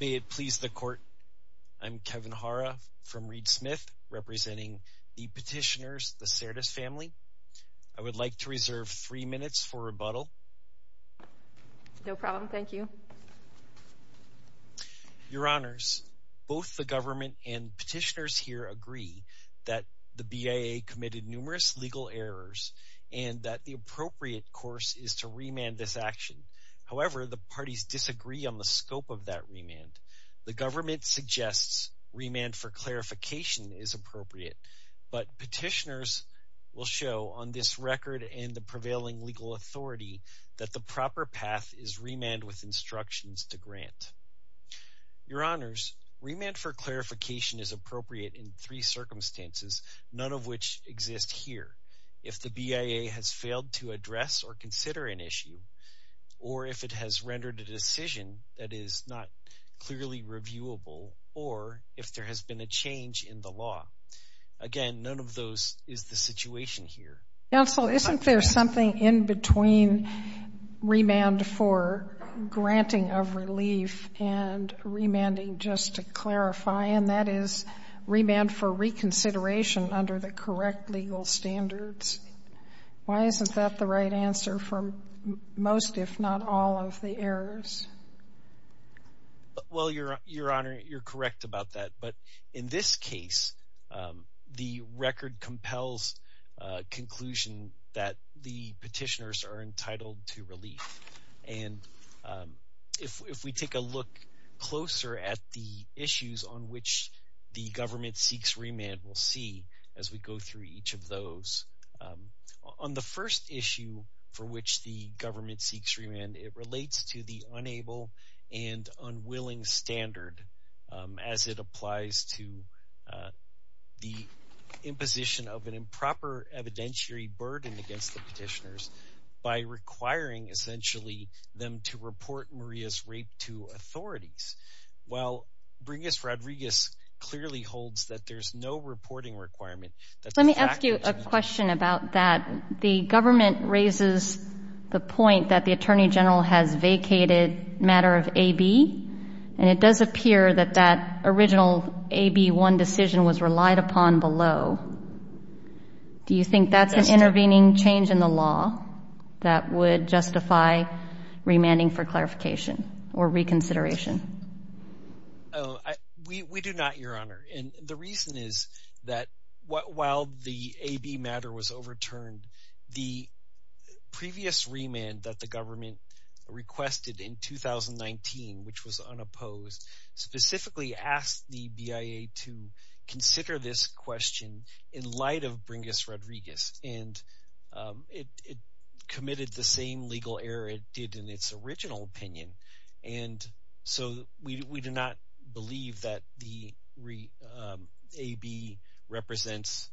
May it please the Court, I'm Kevin Hara from Reed Smith, representing the petitioners, the Cerdas family. I would like to reserve three minutes for rebuttal. No problem, thank you. Your Honors, both the government and petitioners here agree that the BIA committed numerous legal errors and that the appropriate course is to remand this action. However, the parties disagree on the scope of that remand. The government suggests remand for clarification is appropriate, but petitioners will show on this record and the prevailing legal authority that the proper path is remand with instructions to grant. Your Honors, remand for clarification is appropriate in three circumstances, none of which exist here. If the BIA has failed to address or consider an issue, or if it has rendered a decision that is not clearly reviewable, or if there has been a change in the law. Again, none of those is the situation here. Counsel, isn't there something in between remand for granting of relief and remanding just to clarify, and that is remand for reconsideration under the correct legal standards? Why isn't that the right answer for most, if not all, of the errors? Well, Your Honor, you're correct about that. But in this case, the record compels conclusion that the petitioners are entitled to relief. And if we take a look closer at the issues on which the government seeks remand, we'll see as we go through each of those. On the first issue for which the government seeks remand, it relates to the unable and unwilling standard, as it applies to the imposition of an improper evidentiary burden against the petitioners, by requiring essentially them to report Maria's rape to authorities. Well, Bringus Rodriguez clearly holds that there's no reporting requirement. Let me ask you a question about that. The government raises the point that the Attorney General has vacated matter of AB, and it does appear that that original AB1 decision was relied upon below. Do you think that's an intervening change in the law that would justify remanding for clarification or reconsideration? We do not, Your Honor. And the reason is that while the AB matter was overturned, the previous remand that the government requested in 2019, which was unopposed, specifically asked the BIA to consider this question in light of Bringus Rodriguez. And it committed the same legal error it did in its original opinion. And so we do not believe that the AB represents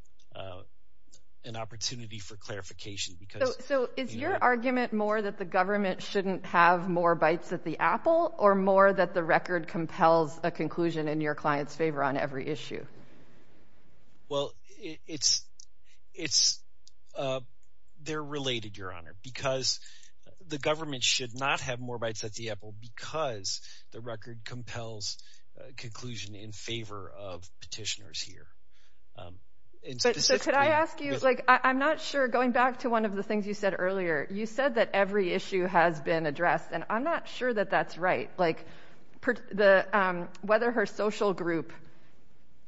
an opportunity for clarification. So is your argument more that the government shouldn't have more bites at the apple, or more that the record compels a conclusion in your client's favor on every issue? Well, it's – they're related, Your Honor, because the government should not have more bites at the apple because the record compels a conclusion in favor of petitioners here. So could I ask you – like, I'm not sure, going back to one of the things you said earlier, you said that every issue has been addressed, and I'm not sure that that's right. Like, whether her social group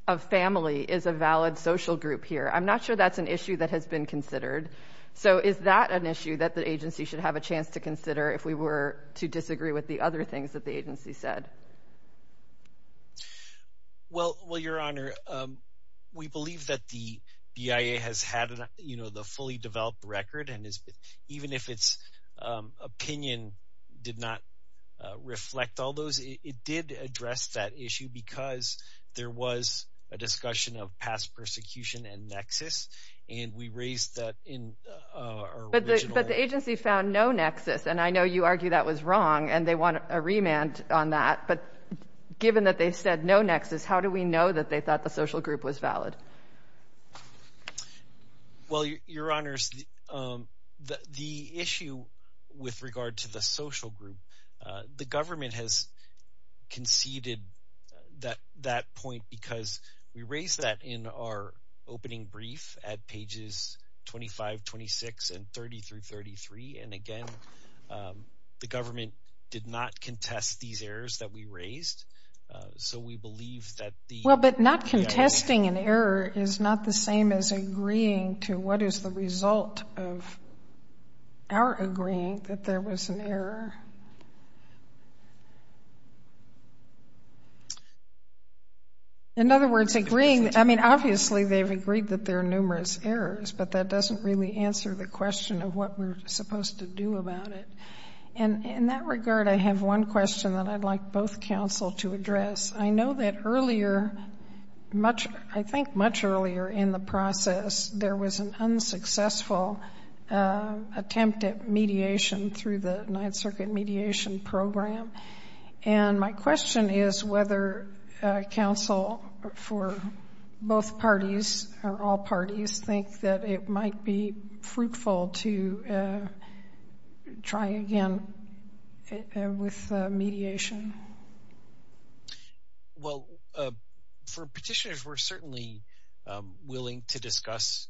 of family is a valid social group here, I'm not sure that's an issue that has been considered. So is that an issue that the agency should have a chance to consider if we were to disagree with the other things that the agency said? Well, Your Honor, we believe that the BIA has had the fully developed record, and even if its opinion did not reflect all those, it did address that issue because there was a discussion of past persecution and nexus, and we raised that in our original – But the agency found no nexus, and I know you argue that was wrong, and they want a remand on that, but given that they said no nexus, how do we know that they thought the social group was valid? Well, Your Honors, the issue with regard to the social group, the government has conceded that point because we raised that in our opening brief at pages 25, 26, and 30 through 33, and again, the government did not contest these errors that we raised, so we believe that the – Well, but not contesting an error is not the same as agreeing to what is the result of our agreeing that there was an error. In other words, agreeing – I mean, obviously they've agreed that there are numerous errors, but that doesn't really answer the question of what we're supposed to do about it. And in that regard, I have one question that I'd like both counsel to address. I know that earlier, I think much earlier in the process, there was an unsuccessful attempt at mediation through the Ninth Circuit Mediation Program, and my question is whether counsel for both parties or all parties think that it might be fruitful to try again with mediation. Well, for petitioners, we're certainly willing to discuss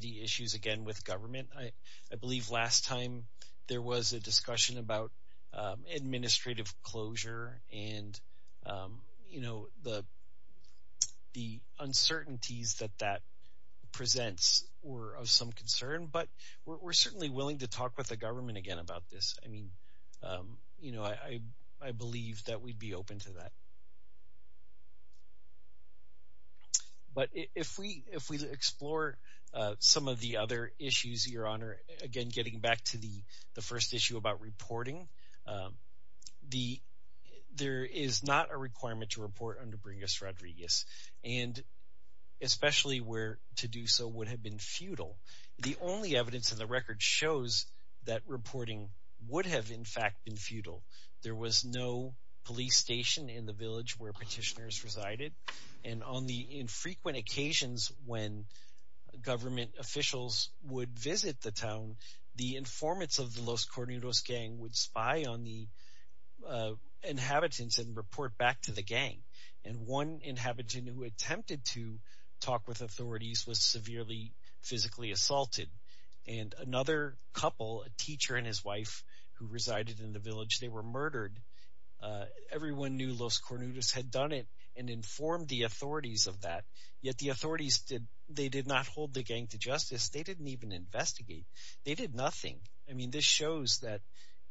the issues again with government. I believe last time there was a discussion about administrative closure and the uncertainties that that presents were of some concern, but we're certainly willing to talk with the government again about this. I mean, I believe that we'd be open to that. But if we explore some of the other issues, Your Honor, again getting back to the first issue about reporting, there is not a requirement to report under Bringus-Rodriguez, and especially where to do so would have been futile. The only evidence in the record shows that reporting would have in fact been futile. There was no police station in the village where petitioners resided, and on the infrequent occasions when government officials would visit the town, the informants of the Los Cornudos gang would spy on the inhabitants and report back to the gang, and one inhabitant who attempted to talk with authorities was severely physically assaulted, and another couple, a teacher and his wife who resided in the village, they were murdered. Everyone knew Los Cornudos had done it and informed the authorities of that, yet the authorities did not hold the gang to justice. They didn't even investigate. They did nothing. I mean, this shows that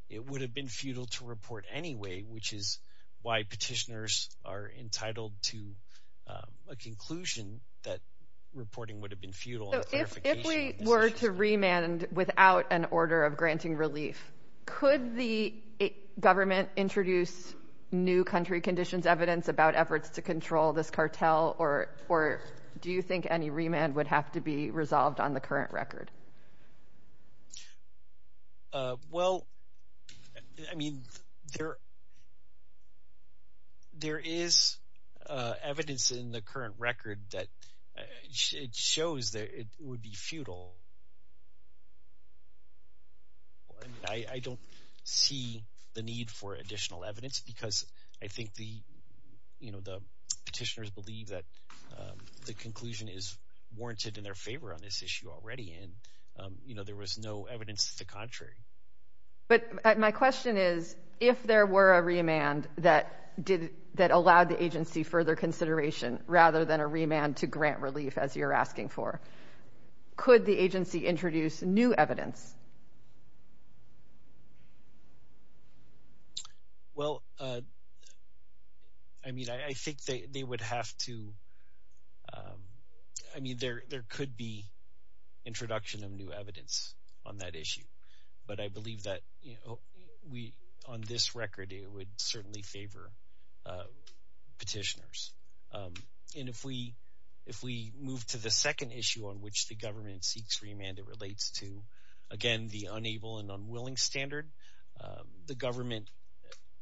it would have been futile to report anyway, which is why petitioners are entitled to a conclusion that reporting would have been futile. So if we were to remand without an order of granting relief, could the government introduce new country conditions evidence about efforts to control this cartel, or do you think any remand would have to be resolved on the current record? Well, I mean, there is evidence in the current record that it shows that it would be futile. I don't see the need for additional evidence because I think the petitioners believe that the conclusion is warranted in their favor on this issue already, and there was no evidence to the contrary. But my question is, if there were a remand that allowed the agency further consideration rather than a remand to grant relief, as you're asking for, could the agency introduce new evidence? Well, I mean, I think they would have to. I mean, there could be introduction of new evidence on that issue, but I believe that on this record it would certainly favor petitioners. And if we move to the second issue on which the government seeks remand, it relates to, again, the unable and unwilling standard. The government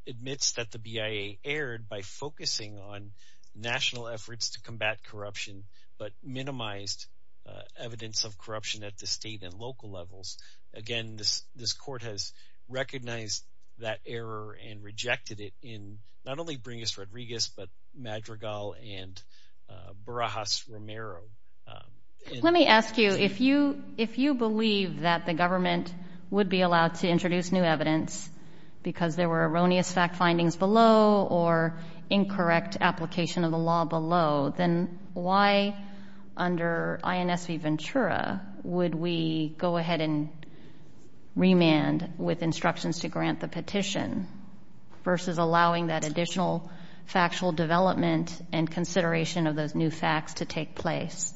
admits that the BIA erred by focusing on national efforts to combat corruption, but minimized evidence of corruption at the state and local levels. Again, this court has recognized that error and rejected it in not only Bringus Rodriguez, but Madrigal and Barajas Romero. Let me ask you, if you believe that the government would be allowed to introduce new evidence because there were erroneous fact findings below or incorrect application of the law below, then why under INS v. Ventura would we go ahead and remand with instructions to grant the petition versus allowing that additional factual development and consideration of those new facts to take place?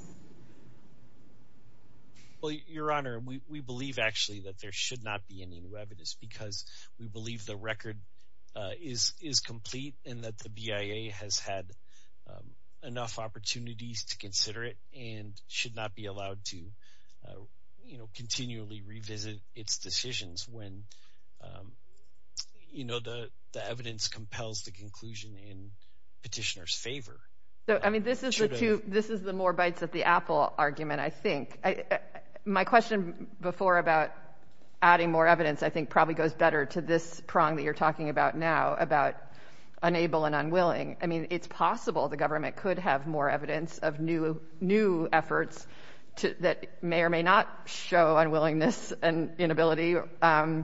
Well, Your Honor, we believe, actually, that there should not be any new evidence because we believe the record is complete and that the BIA has had enough opportunities to consider it and should not be allowed to continually revisit its decisions when the evidence compels the conclusion in petitioner's favor. This is the more bites at the apple argument, I think. My question before about adding more evidence, I think, probably goes better to this prong that you're talking about now about unable and unwilling. I mean, it's possible the government could have more evidence of new efforts that may or may not show unwillingness and inability, and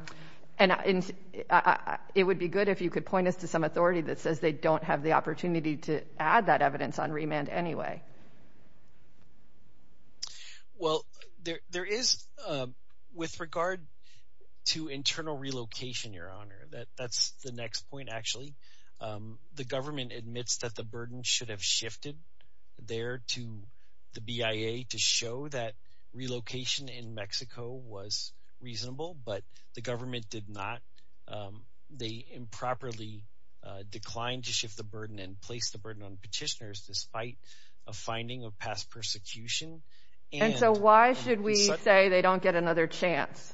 it would be good if you could point us to some authority that says they don't have the opportunity to add that evidence on remand anyway. Well, there is, with regard to internal relocation, Your Honor, that's the next point, actually. The government admits that the burden should have shifted there to the BIA to show that relocation in Mexico was reasonable, but the government did not. They improperly declined to shift the burden and place the burden on petitioners despite a finding of past persecution. And so why should we say they don't get another chance?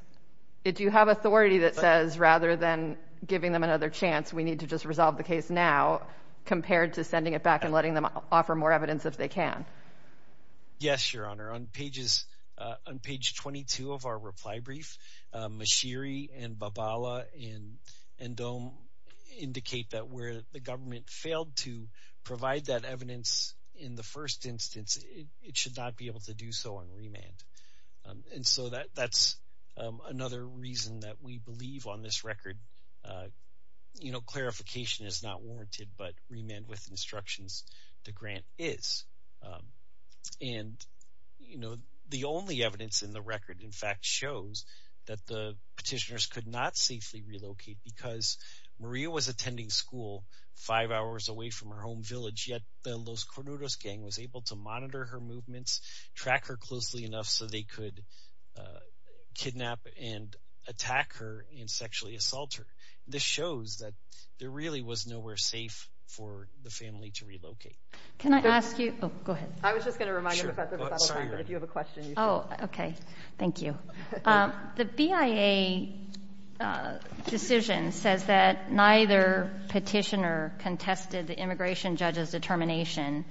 Do you have authority that says rather than giving them another chance, we need to just resolve the case now compared to sending it back and letting them offer more evidence if they can? Yes, Your Honor. On page 22 of our reply brief, Mashiri and Babala and Dome indicate that where the government failed to provide that evidence in the first instance, it should not be able to do so on remand. And so that's another reason that we believe on this record clarification is not warranted, but remand with instructions, the grant is. And the only evidence in the record, in fact, shows that the petitioners could not safely relocate because Maria was attending school five hours away from her home village, yet the Los Cornudos gang was able to monitor her movements, track her closely enough so they could kidnap and attack her and sexually assault her. This shows that there really was nowhere safe for the family to relocate. Can I ask you? Oh, go ahead. I was just going to remind you, Professor, if you have a question. Oh, okay. Thank you. The BIA decision says that neither petitioner contested the immigration judge's determination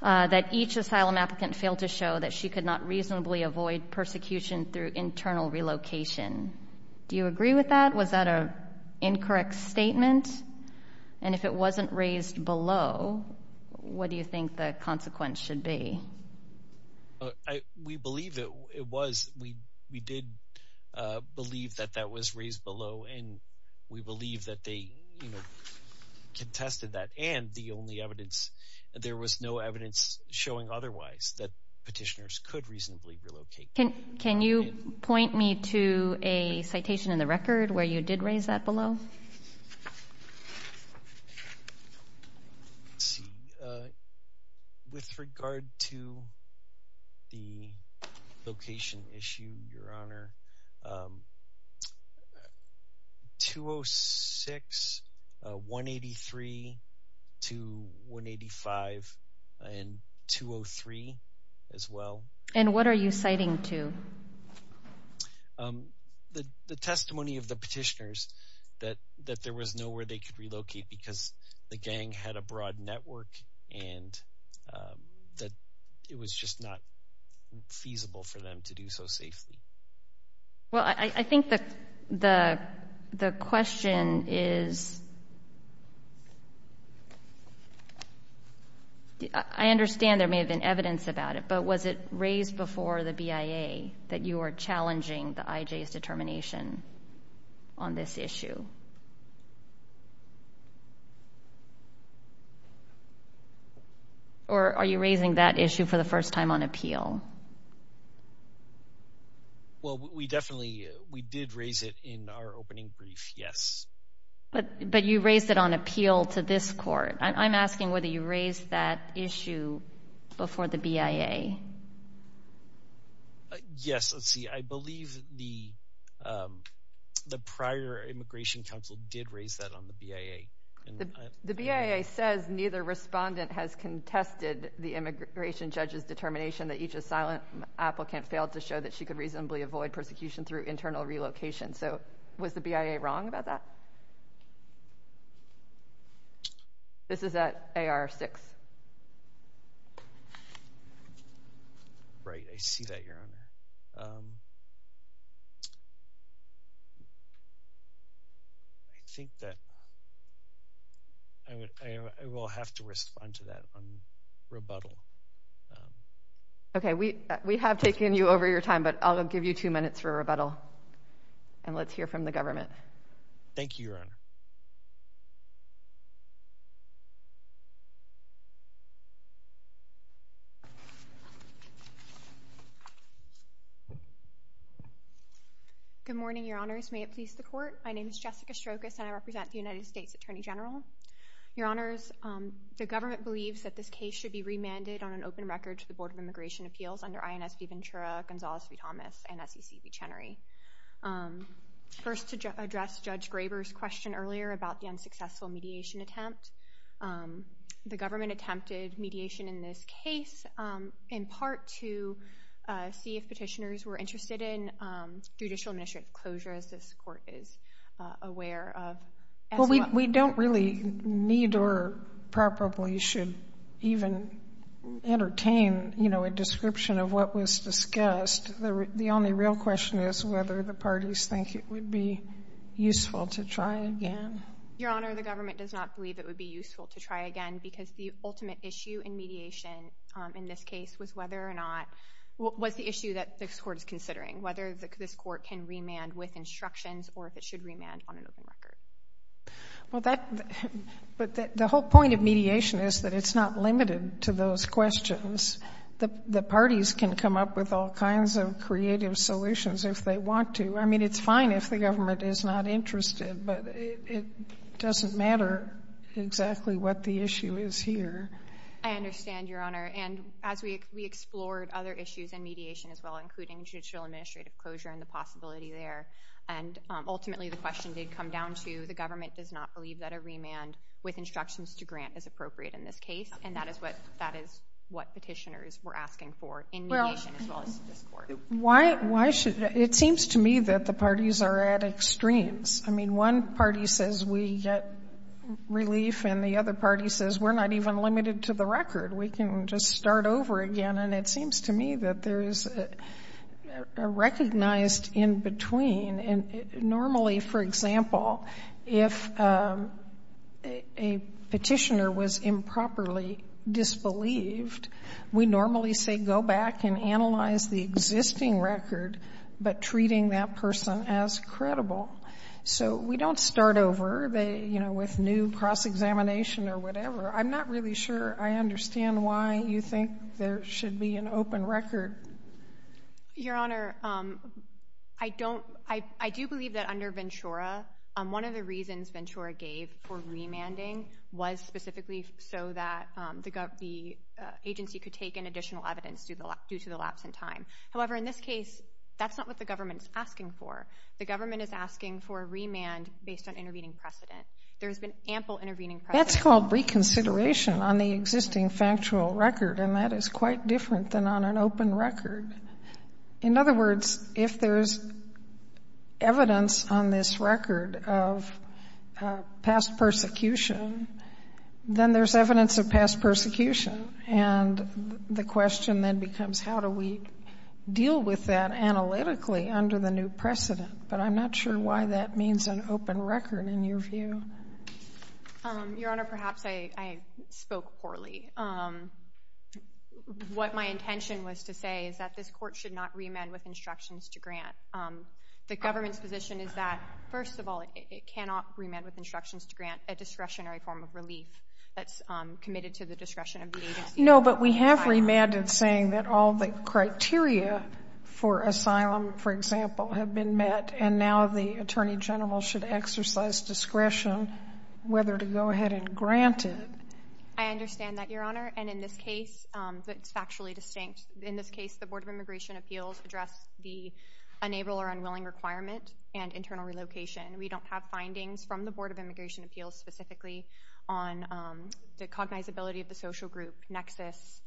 that each asylum applicant failed to show that she could not reasonably avoid persecution through internal relocation. Do you agree with that? Was that an incorrect statement? And if it wasn't raised below, what do you think the consequence should be? We believe it was. We did believe that that was raised below, and we believe that they contested that. And the only evidence, there was no evidence showing otherwise, that petitioners could reasonably relocate. Can you point me to a citation in the record where you did raise that below? Let's see. With regard to the location issue, Your Honor, 206, 183 to 185 and 203 as well. And what are you citing to? The testimony of the petitioners that there was nowhere they could relocate because the gang had a broad network and that it was just not feasible for them to do so safely. Well, I think the question is, I understand there may have been evidence about it, but was it raised before the BIA that you are challenging the IJ's determination on this issue? Or are you raising that issue for the first time on appeal? Well, we definitely did raise it in our opening brief, yes. But you raised it on appeal to this court. I'm asking whether you raised that issue before the BIA. Yes. Let's see. I believe the prior immigration counsel did raise that on the BIA. The BIA says neither respondent has contested the immigration judge's determination that each asylum applicant failed to show that she could reasonably avoid persecution through internal relocation. So was the BIA wrong about that? This is at AR-6. Right. I see that, Your Honor. I think that I will have to respond to that on rebuttal. Okay. We have taken you over your time, but I'll give you two minutes for rebuttal. And let's hear from the government. Thank you, Your Honor. Good morning, Your Honors. May it please the Court. My name is Jessica Strokos, and I represent the United States Attorney General. Your Honors, the government believes that this case should be remanded on an open record to the Board of Immigration Appeals under INS V. Ventura, Gonzalez v. Thomas, and SEC v. Chenery. First, to address Judge Graber's question earlier about the unsuccessful mediation attempt, the government attempted mediation in this case in part to see if petitioners were interested in judicial administrative closure, as this Court is aware of. Well, we don't really need or probably should even entertain, you know, a description of what was discussed. The only real question is whether the parties think it would be useful to try again. Your Honor, the government does not believe it would be useful to try again because the ultimate issue in mediation in this case was whether or not was the issue that this Court is considering, whether this Court can remand with instructions or if it should remand on an open record. Well, the whole point of mediation is that it's not limited to those questions. The parties can come up with all kinds of creative solutions if they want to. I mean, it's fine if the government is not interested, but it doesn't matter exactly what the issue is here. I understand, Your Honor. And as we explored other issues in mediation as well, including judicial administrative closure and the possibility there, and ultimately the question did come down to the government does not believe that a remand with instructions to grant is appropriate in this case, and that is what petitioners were asking for in mediation as well as this Court. It seems to me that the parties are at extremes. I mean, one party says we get relief and the other party says we're not even limited to the record. We can just start over again, and it seems to me that there is a recognized in between. Normally, for example, if a petitioner was improperly disbelieved, we normally say go back and analyze the existing record, but treating that person as credible. So we don't start over, you know, with new cross-examination or whatever. I'm not really sure I understand why you think there should be an open record. Your Honor, I do believe that under Ventura, one of the reasons Ventura gave for remanding was specifically so that the agency could take in additional evidence due to the lapse in time. However, in this case, that's not what the government is asking for. The government is asking for a remand based on intervening precedent. There has been ample intervening precedent. That's called reconsideration on the existing factual record, and that is quite different than on an open record. In other words, if there is evidence on this record of past persecution, then there's evidence of past persecution, and the question then becomes how do we deal with that analytically under the new precedent, but I'm not sure why that means an open record in your view. Your Honor, perhaps I spoke poorly. What my intention was to say is that this court should not remand with instructions to grant. The government's position is that, first of all, it cannot remand with instructions to grant a discretionary form of relief that's committed to the discretion of the agency. No, but we have remanded saying that all the criteria for asylum, for example, have been met, and now the Attorney General should exercise discretion whether to go ahead and grant it. I understand that, Your Honor, and in this case, it's factually distinct. In this case, the Board of Immigration Appeals addressed the unable or unwilling requirement and internal relocation. We don't have findings from the Board of Immigration Appeals specifically on the cognizability of the social group nexus,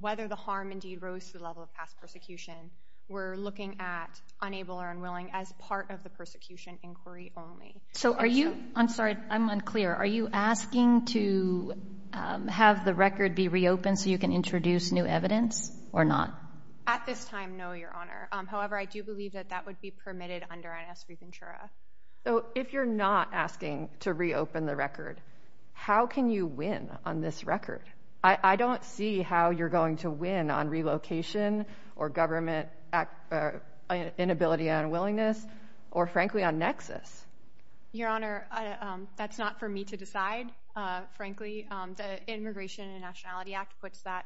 whether the harm indeed rose to the level of past persecution. We're looking at unable or unwilling as part of the persecution inquiry only. So are you—I'm sorry, I'm unclear. Are you asking to have the record be reopened so you can introduce new evidence or not? At this time, no, Your Honor. However, I do believe that that would be permitted under NS Recontura. So if you're not asking to reopen the record, how can you win on this record? I don't see how you're going to win on relocation or government inability and unwillingness or, frankly, on nexus. Your Honor, that's not for me to decide, frankly. The Immigration and Nationality Act puts that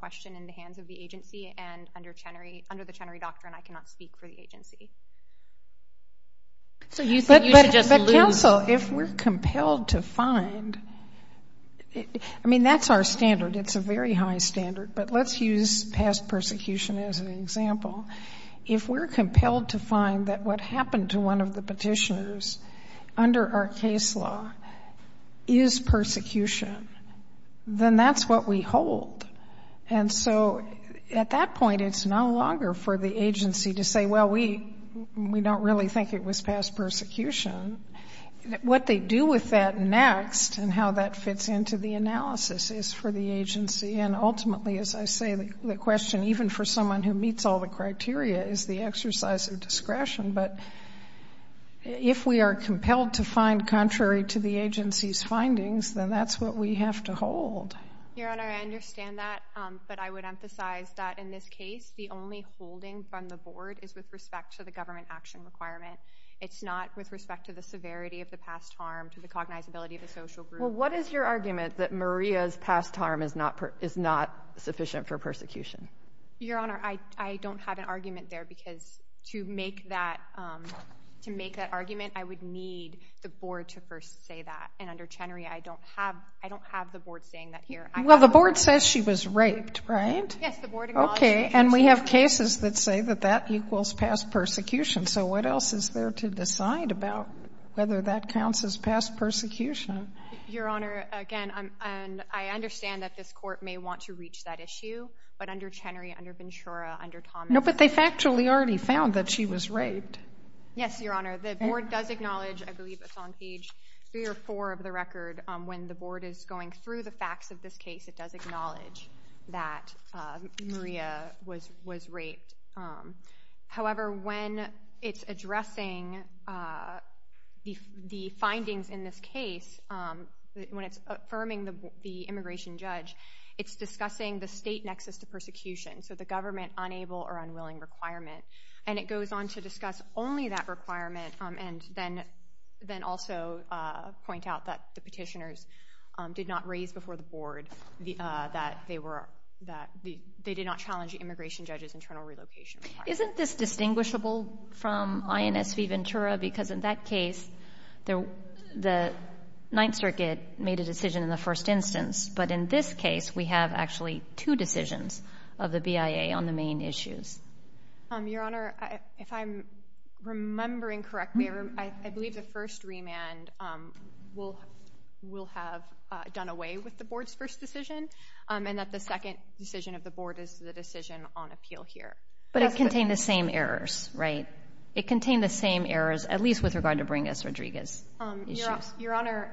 question in the hands of the agency, and under the Chenery Doctrine, I cannot speak for the agency. So you think you should just lose— But, counsel, if we're compelled to find—I mean, that's our standard. It's a very high standard, but let's use past persecution as an example. If we're compelled to find that what happened to one of the petitioners under our case law is persecution, then that's what we hold. And so at that point, it's no longer for the agency to say, well, we don't really think it was past persecution. What they do with that next and how that fits into the analysis is for the agency. And ultimately, as I say, the question, even for someone who meets all the criteria, is the exercise of discretion. But if we are compelled to find contrary to the agency's findings, then that's what we have to hold. Your Honor, I understand that, but I would emphasize that in this case, the only holding from the board is with respect to the government action requirement. It's not with respect to the severity of the past harm, to the cognizability of the social group. Well, what is your argument that Maria's past harm is not sufficient for persecution? Your Honor, I don't have an argument there because to make that argument, I would need the board to first say that. And under Chenery, I don't have the board saying that here. Well, the board says she was raped, right? Yes, the board acknowledges. Okay. And we have cases that say that that equals past persecution. So what else is there to decide about whether that counts as past persecution? Your Honor, again, I understand that this court may want to reach that issue, but under Chenery, under Ventura, under Thomas. No, but they've actually already found that she was raped. Yes, Your Honor. The board does acknowledge, I believe it's on page three or four of the record, when the board is going through the facts of this case, it does acknowledge that Maria was raped. However, when it's addressing the findings in this case, when it's affirming the immigration judge, it's discussing the state nexus to persecution, so the government unable or unwilling requirement. And it goes on to discuss only that requirement and then also point out that the petitioners did not raise before the board that they did not challenge the immigration judge's internal relocation. Isn't this distinguishable from INS v. Ventura? Because in that case, the Ninth Circuit made a decision in the first instance. But in this case, we have actually two decisions of the BIA on the main issues. Your Honor, if I'm remembering correctly, I believe the first remand will have done away with the board's first decision and that the second decision of the board is the decision on appeal here. But it contained the same errors, right? It contained the same errors, at least with regard to Bringus-Rodriguez issues. Your Honor,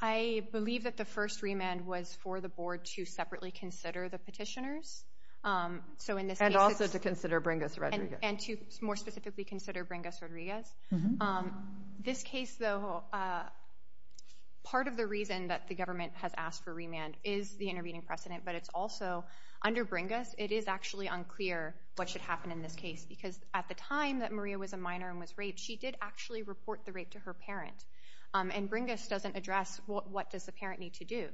I believe that the first remand was for the board to separately consider the petitioners. And also to consider Bringus-Rodriguez. And to more specifically consider Bringus-Rodriguez. This case, though, part of the reason that the government has asked for remand is the intervening precedent. But it's also, under Bringus, it is actually unclear what should happen in this case. Because at the time that Maria was a minor and was raped, she did actually report the rape to her parent. And Bringus doesn't address what does the parent need to do.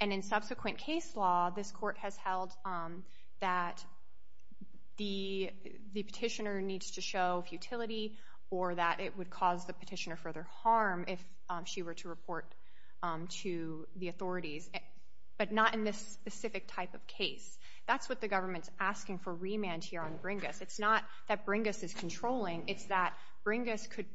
And in subsequent case law, this court has held that the petitioner needs to show futility or that it would cause the petitioner further harm if she were to report to the authorities. But not in this specific type of case. That's what the government's asking for remand here on Bringus. It's not that Bringus is controlling. It's that Bringus could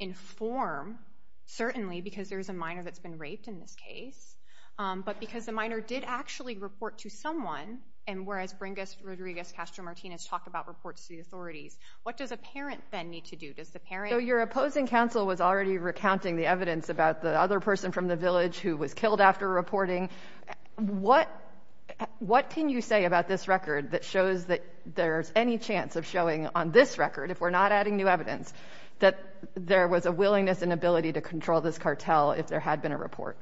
inform, certainly because there's a minor that's been raped in this case. But because the minor did actually report to someone, and whereas Bringus-Rodriguez-Castro-Martinez talked about reports to the authorities, what does a parent then need to do? Does the parent— So your opposing counsel was already recounting the evidence about the other person from the village who was killed after reporting. What can you say about this record that shows that there's any chance of showing on this record, if we're not adding new evidence, that there was a willingness and ability to control this cartel if there had been a report?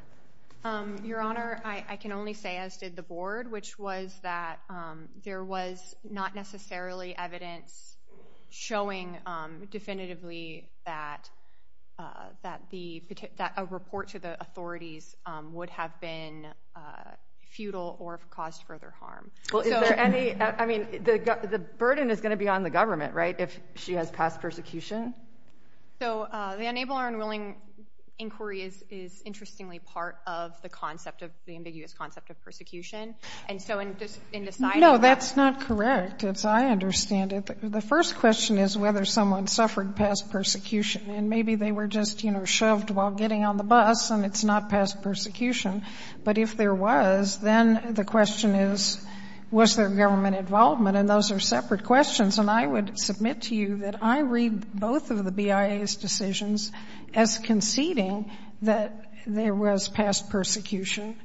Your Honor, I can only say, as did the Board, which was that there was not necessarily evidence showing definitively that a report to the authorities would have been futile or caused further harm. Well, is there any—I mean, the burden is going to be on the government, right, if she has passed persecution? So the unable or unwilling inquiry is interestingly part of the ambiguous concept of persecution. And so in deciding— No, that's not correct. I understand it. The first question is whether someone suffered past persecution. And maybe they were just, you know, shoved while getting on the bus, and it's not past persecution. But if there was, then the question is, was there government involvement? And those are separate questions. And I would submit to you that I read both of the BIA's decisions as conceding that there was past persecution.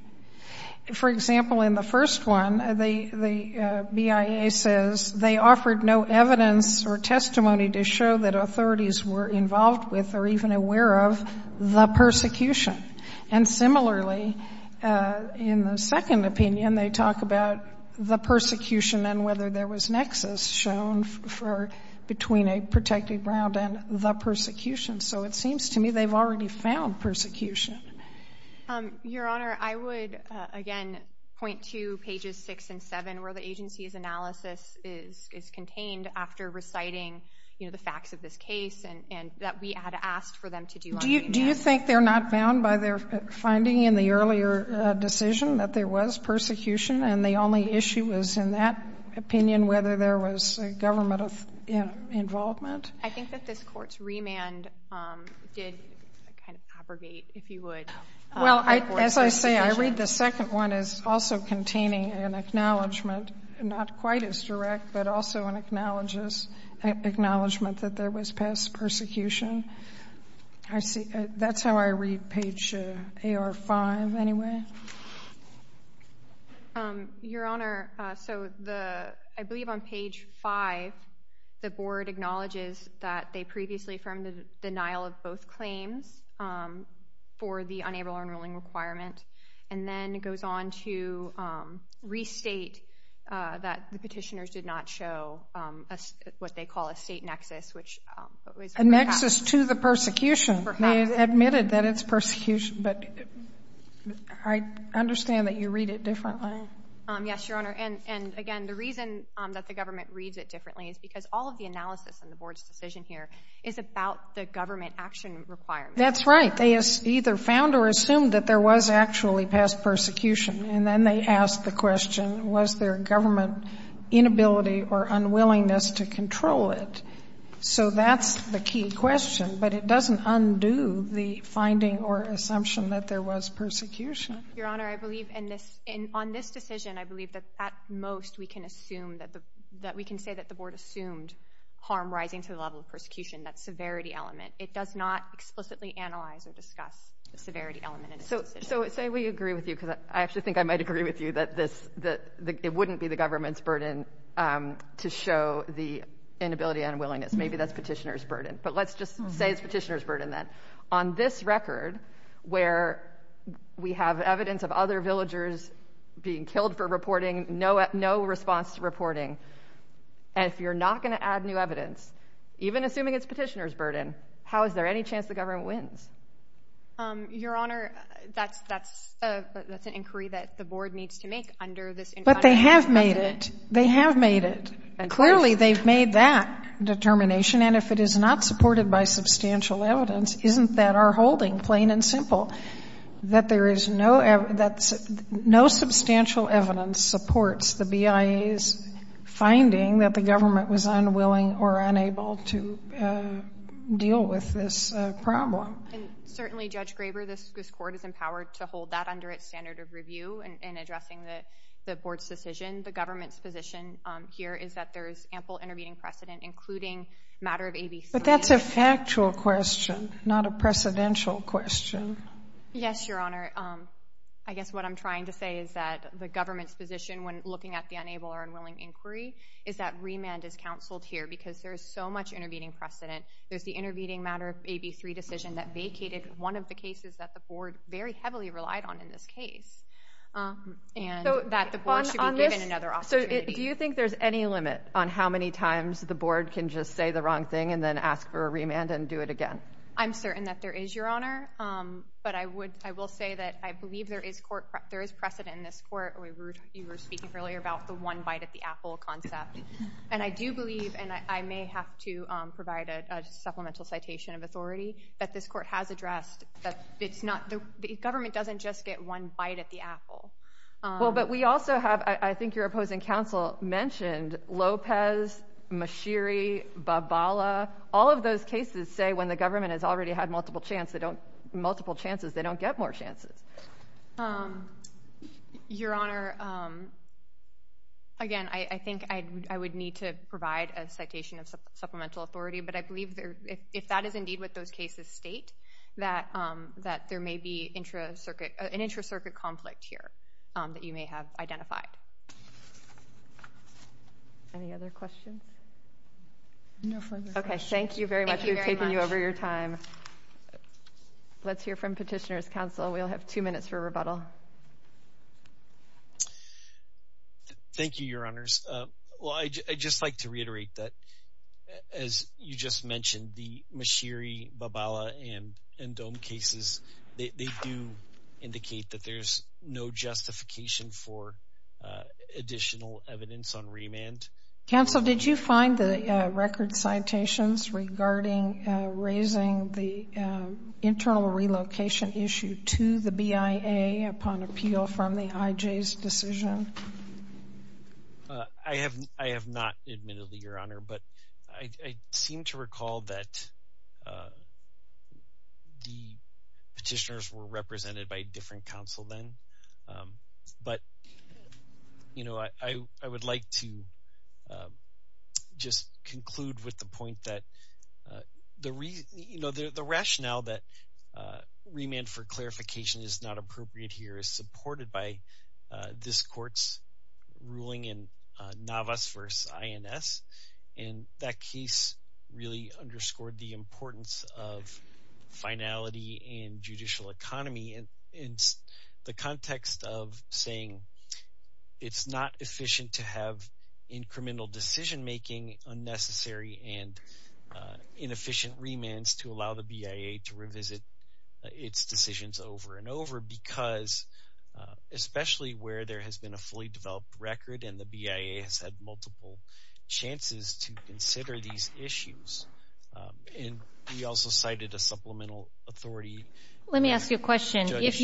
For example, in the first one, the BIA says, they offered no evidence or testimony to show that authorities were involved with or even aware of the persecution. And similarly, in the second opinion, they talk about the persecution and whether there was nexus shown between a protected ground and the persecution. So it seems to me they've already found persecution. Your Honor, I would, again, point to pages 6 and 7, where the agency's analysis is contained after reciting, you know, the facts of this case, and that we had asked for them to do on remand. Do you think they're not bound by their finding in the earlier decision that there was persecution, and the only issue is in that opinion whether there was government involvement? I think that this Court's remand did kind of abrogate, if you would. Well, as I say, I read the second one as also containing an acknowledgment, not quite as direct, but also an acknowledgment that there was past persecution. That's how I read page AR5, anyway. Your Honor, so I believe on page 5, the Board acknowledges that they previously affirmed the denial of both claims for the unable-to-learn ruling requirement, and then goes on to restate that the petitioners did not show what they call a state nexus, which is perhaps— A nexus to the persecution. Perhaps. I admitted that it's persecution, but I understand that you read it differently. Yes, Your Honor, and again, the reason that the government reads it differently is because all of the analysis in the Board's decision here is about the government action requirement. That's right. They either found or assumed that there was actually past persecution, and then they asked the question, was there government inability or unwillingness to control it? So that's the key question, but it doesn't undo the finding or assumption that there was persecution. Your Honor, I believe in this—on this decision, I believe that at most we can assume that the— that we can say that the Board assumed harm rising to the level of persecution, that severity element. It does not explicitly analyze or discuss the severity element in its decision. So say we agree with you, because I actually think I might agree with you, that it wouldn't be the government's burden to show the inability and unwillingness. Maybe that's petitioner's burden, but let's just say it's petitioner's burden then. On this record, where we have evidence of other villagers being killed for reporting, no response to reporting, and if you're not going to add new evidence, even assuming it's petitioner's burden, how is there any chance the government wins? Your Honor, that's an inquiry that the Board needs to make under this— But they have made it. They have made it. Clearly, they've made that determination, and if it is not supported by substantial evidence, isn't that our holding, plain and simple, that there is no— that no substantial evidence supports the BIA's finding that the government was unwilling or unable to deal with this problem? Certainly, Judge Graber, this Court is empowered to hold that under its standard of review in addressing the Board's decision. The government's position here is that there is ample intervening precedent, including matter of AB 3. But that's a factual question, not a precedential question. Yes, Your Honor. I guess what I'm trying to say is that the government's position, when looking at the unable or unwilling inquiry, is that remand is counseled here, because there is so much intervening precedent. There's the intervening matter of AB 3 decision that vacated one of the cases that the Board very heavily relied on in this case, and that the Board should be given another opportunity. So do you think there's any limit on how many times the Board can just say the wrong thing and then ask for a remand and do it again? I'm certain that there is, Your Honor. But I will say that I believe there is precedent in this Court. You were speaking earlier about the one bite at the apple concept. And I do believe, and I may have to provide a supplemental citation of authority, that this Court has addressed that the government doesn't just get one bite at the apple. Well, but we also have, I think your opposing counsel mentioned, Lopez, Mashiri, Babala. All of those cases say when the government has already had multiple chances, they don't get more chances. Your Honor, again, I think I would need to provide a citation of supplemental authority, but I believe if that is indeed what those cases state, that there may be an intra-circuit conflict here that you may have identified. Any other questions? No further questions. Okay, thank you very much. Thank you very much. We've taken you over your time. Let's hear from Petitioner's Counsel. We'll have two minutes for rebuttal. Thank you, Your Honors. Well, I'd just like to reiterate that, as you just mentioned, the Mashiri, Babala, and Dohm cases, they do indicate that there's no justification for additional evidence on remand. Counsel, did you find the record citations regarding raising the internal relocation issue to the BIA upon appeal from the IJ's decision? I have not admittedly, Your Honor, but I seem to recall that the petitioners were represented by a different counsel then. But, you know, I would like to just conclude with the point that the rationale that remand for clarification is not appropriate here is supported by this Court's ruling in Navas v. INS, and that case really underscored the importance of finality in judicial economy. In the context of saying it's not efficient to have incremental decision-making, unnecessary and inefficient remands to allow the BIA to revisit its decisions over and over, because especially where there has been a fully developed record and the BIA has had multiple chances to consider these issues. And we also cited a supplemental authority. Let me ask you a question. If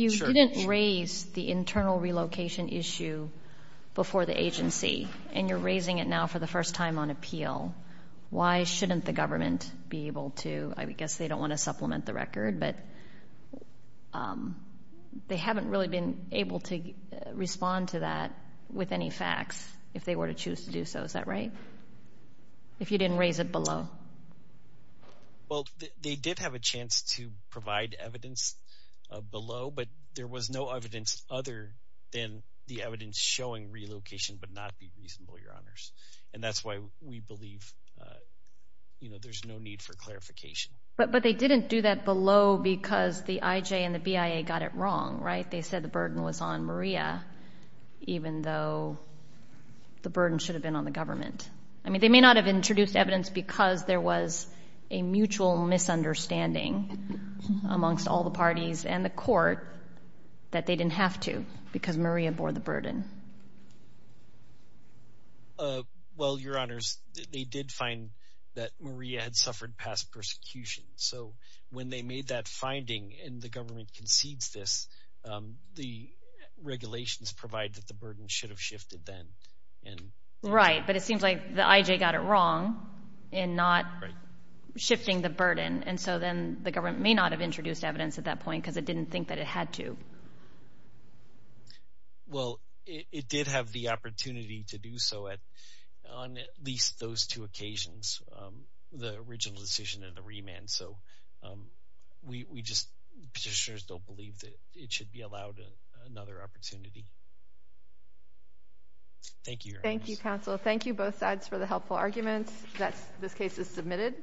you didn't raise the internal relocation issue before the agency and you're raising it now for the first time on appeal, why shouldn't the government be able to? I guess they don't want to supplement the record, but they haven't really been able to respond to that with any facts if they were to choose to do so. Is that right? If you didn't raise it below. Well, they did have a chance to provide evidence below, but there was no evidence other than the evidence showing relocation would not be reasonable, Your Honors, and that's why we believe there's no need for clarification. But they didn't do that below because the IJ and the BIA got it wrong, right? They said the burden was on Maria, even though the burden should have been on the government. I mean, they may not have introduced evidence because there was a mutual misunderstanding amongst all the parties and the court that they didn't have to because Maria bore the burden. Well, Your Honors, they did find that Maria had suffered past persecution. So when they made that finding and the government concedes this, the regulations provide that the burden should have shifted then. Right, but it seems like the IJ got it wrong in not shifting the burden, and so then the government may not have introduced evidence at that point because it didn't think that it had to. Well, it did have the opportunity to do so on at least those two occasions, the original decision and the remand. So we just don't believe that it should be allowed another opportunity. Thank you, Your Honors. Thank you, counsel. Thank you, both sides, for the helpful arguments. This case is submitted.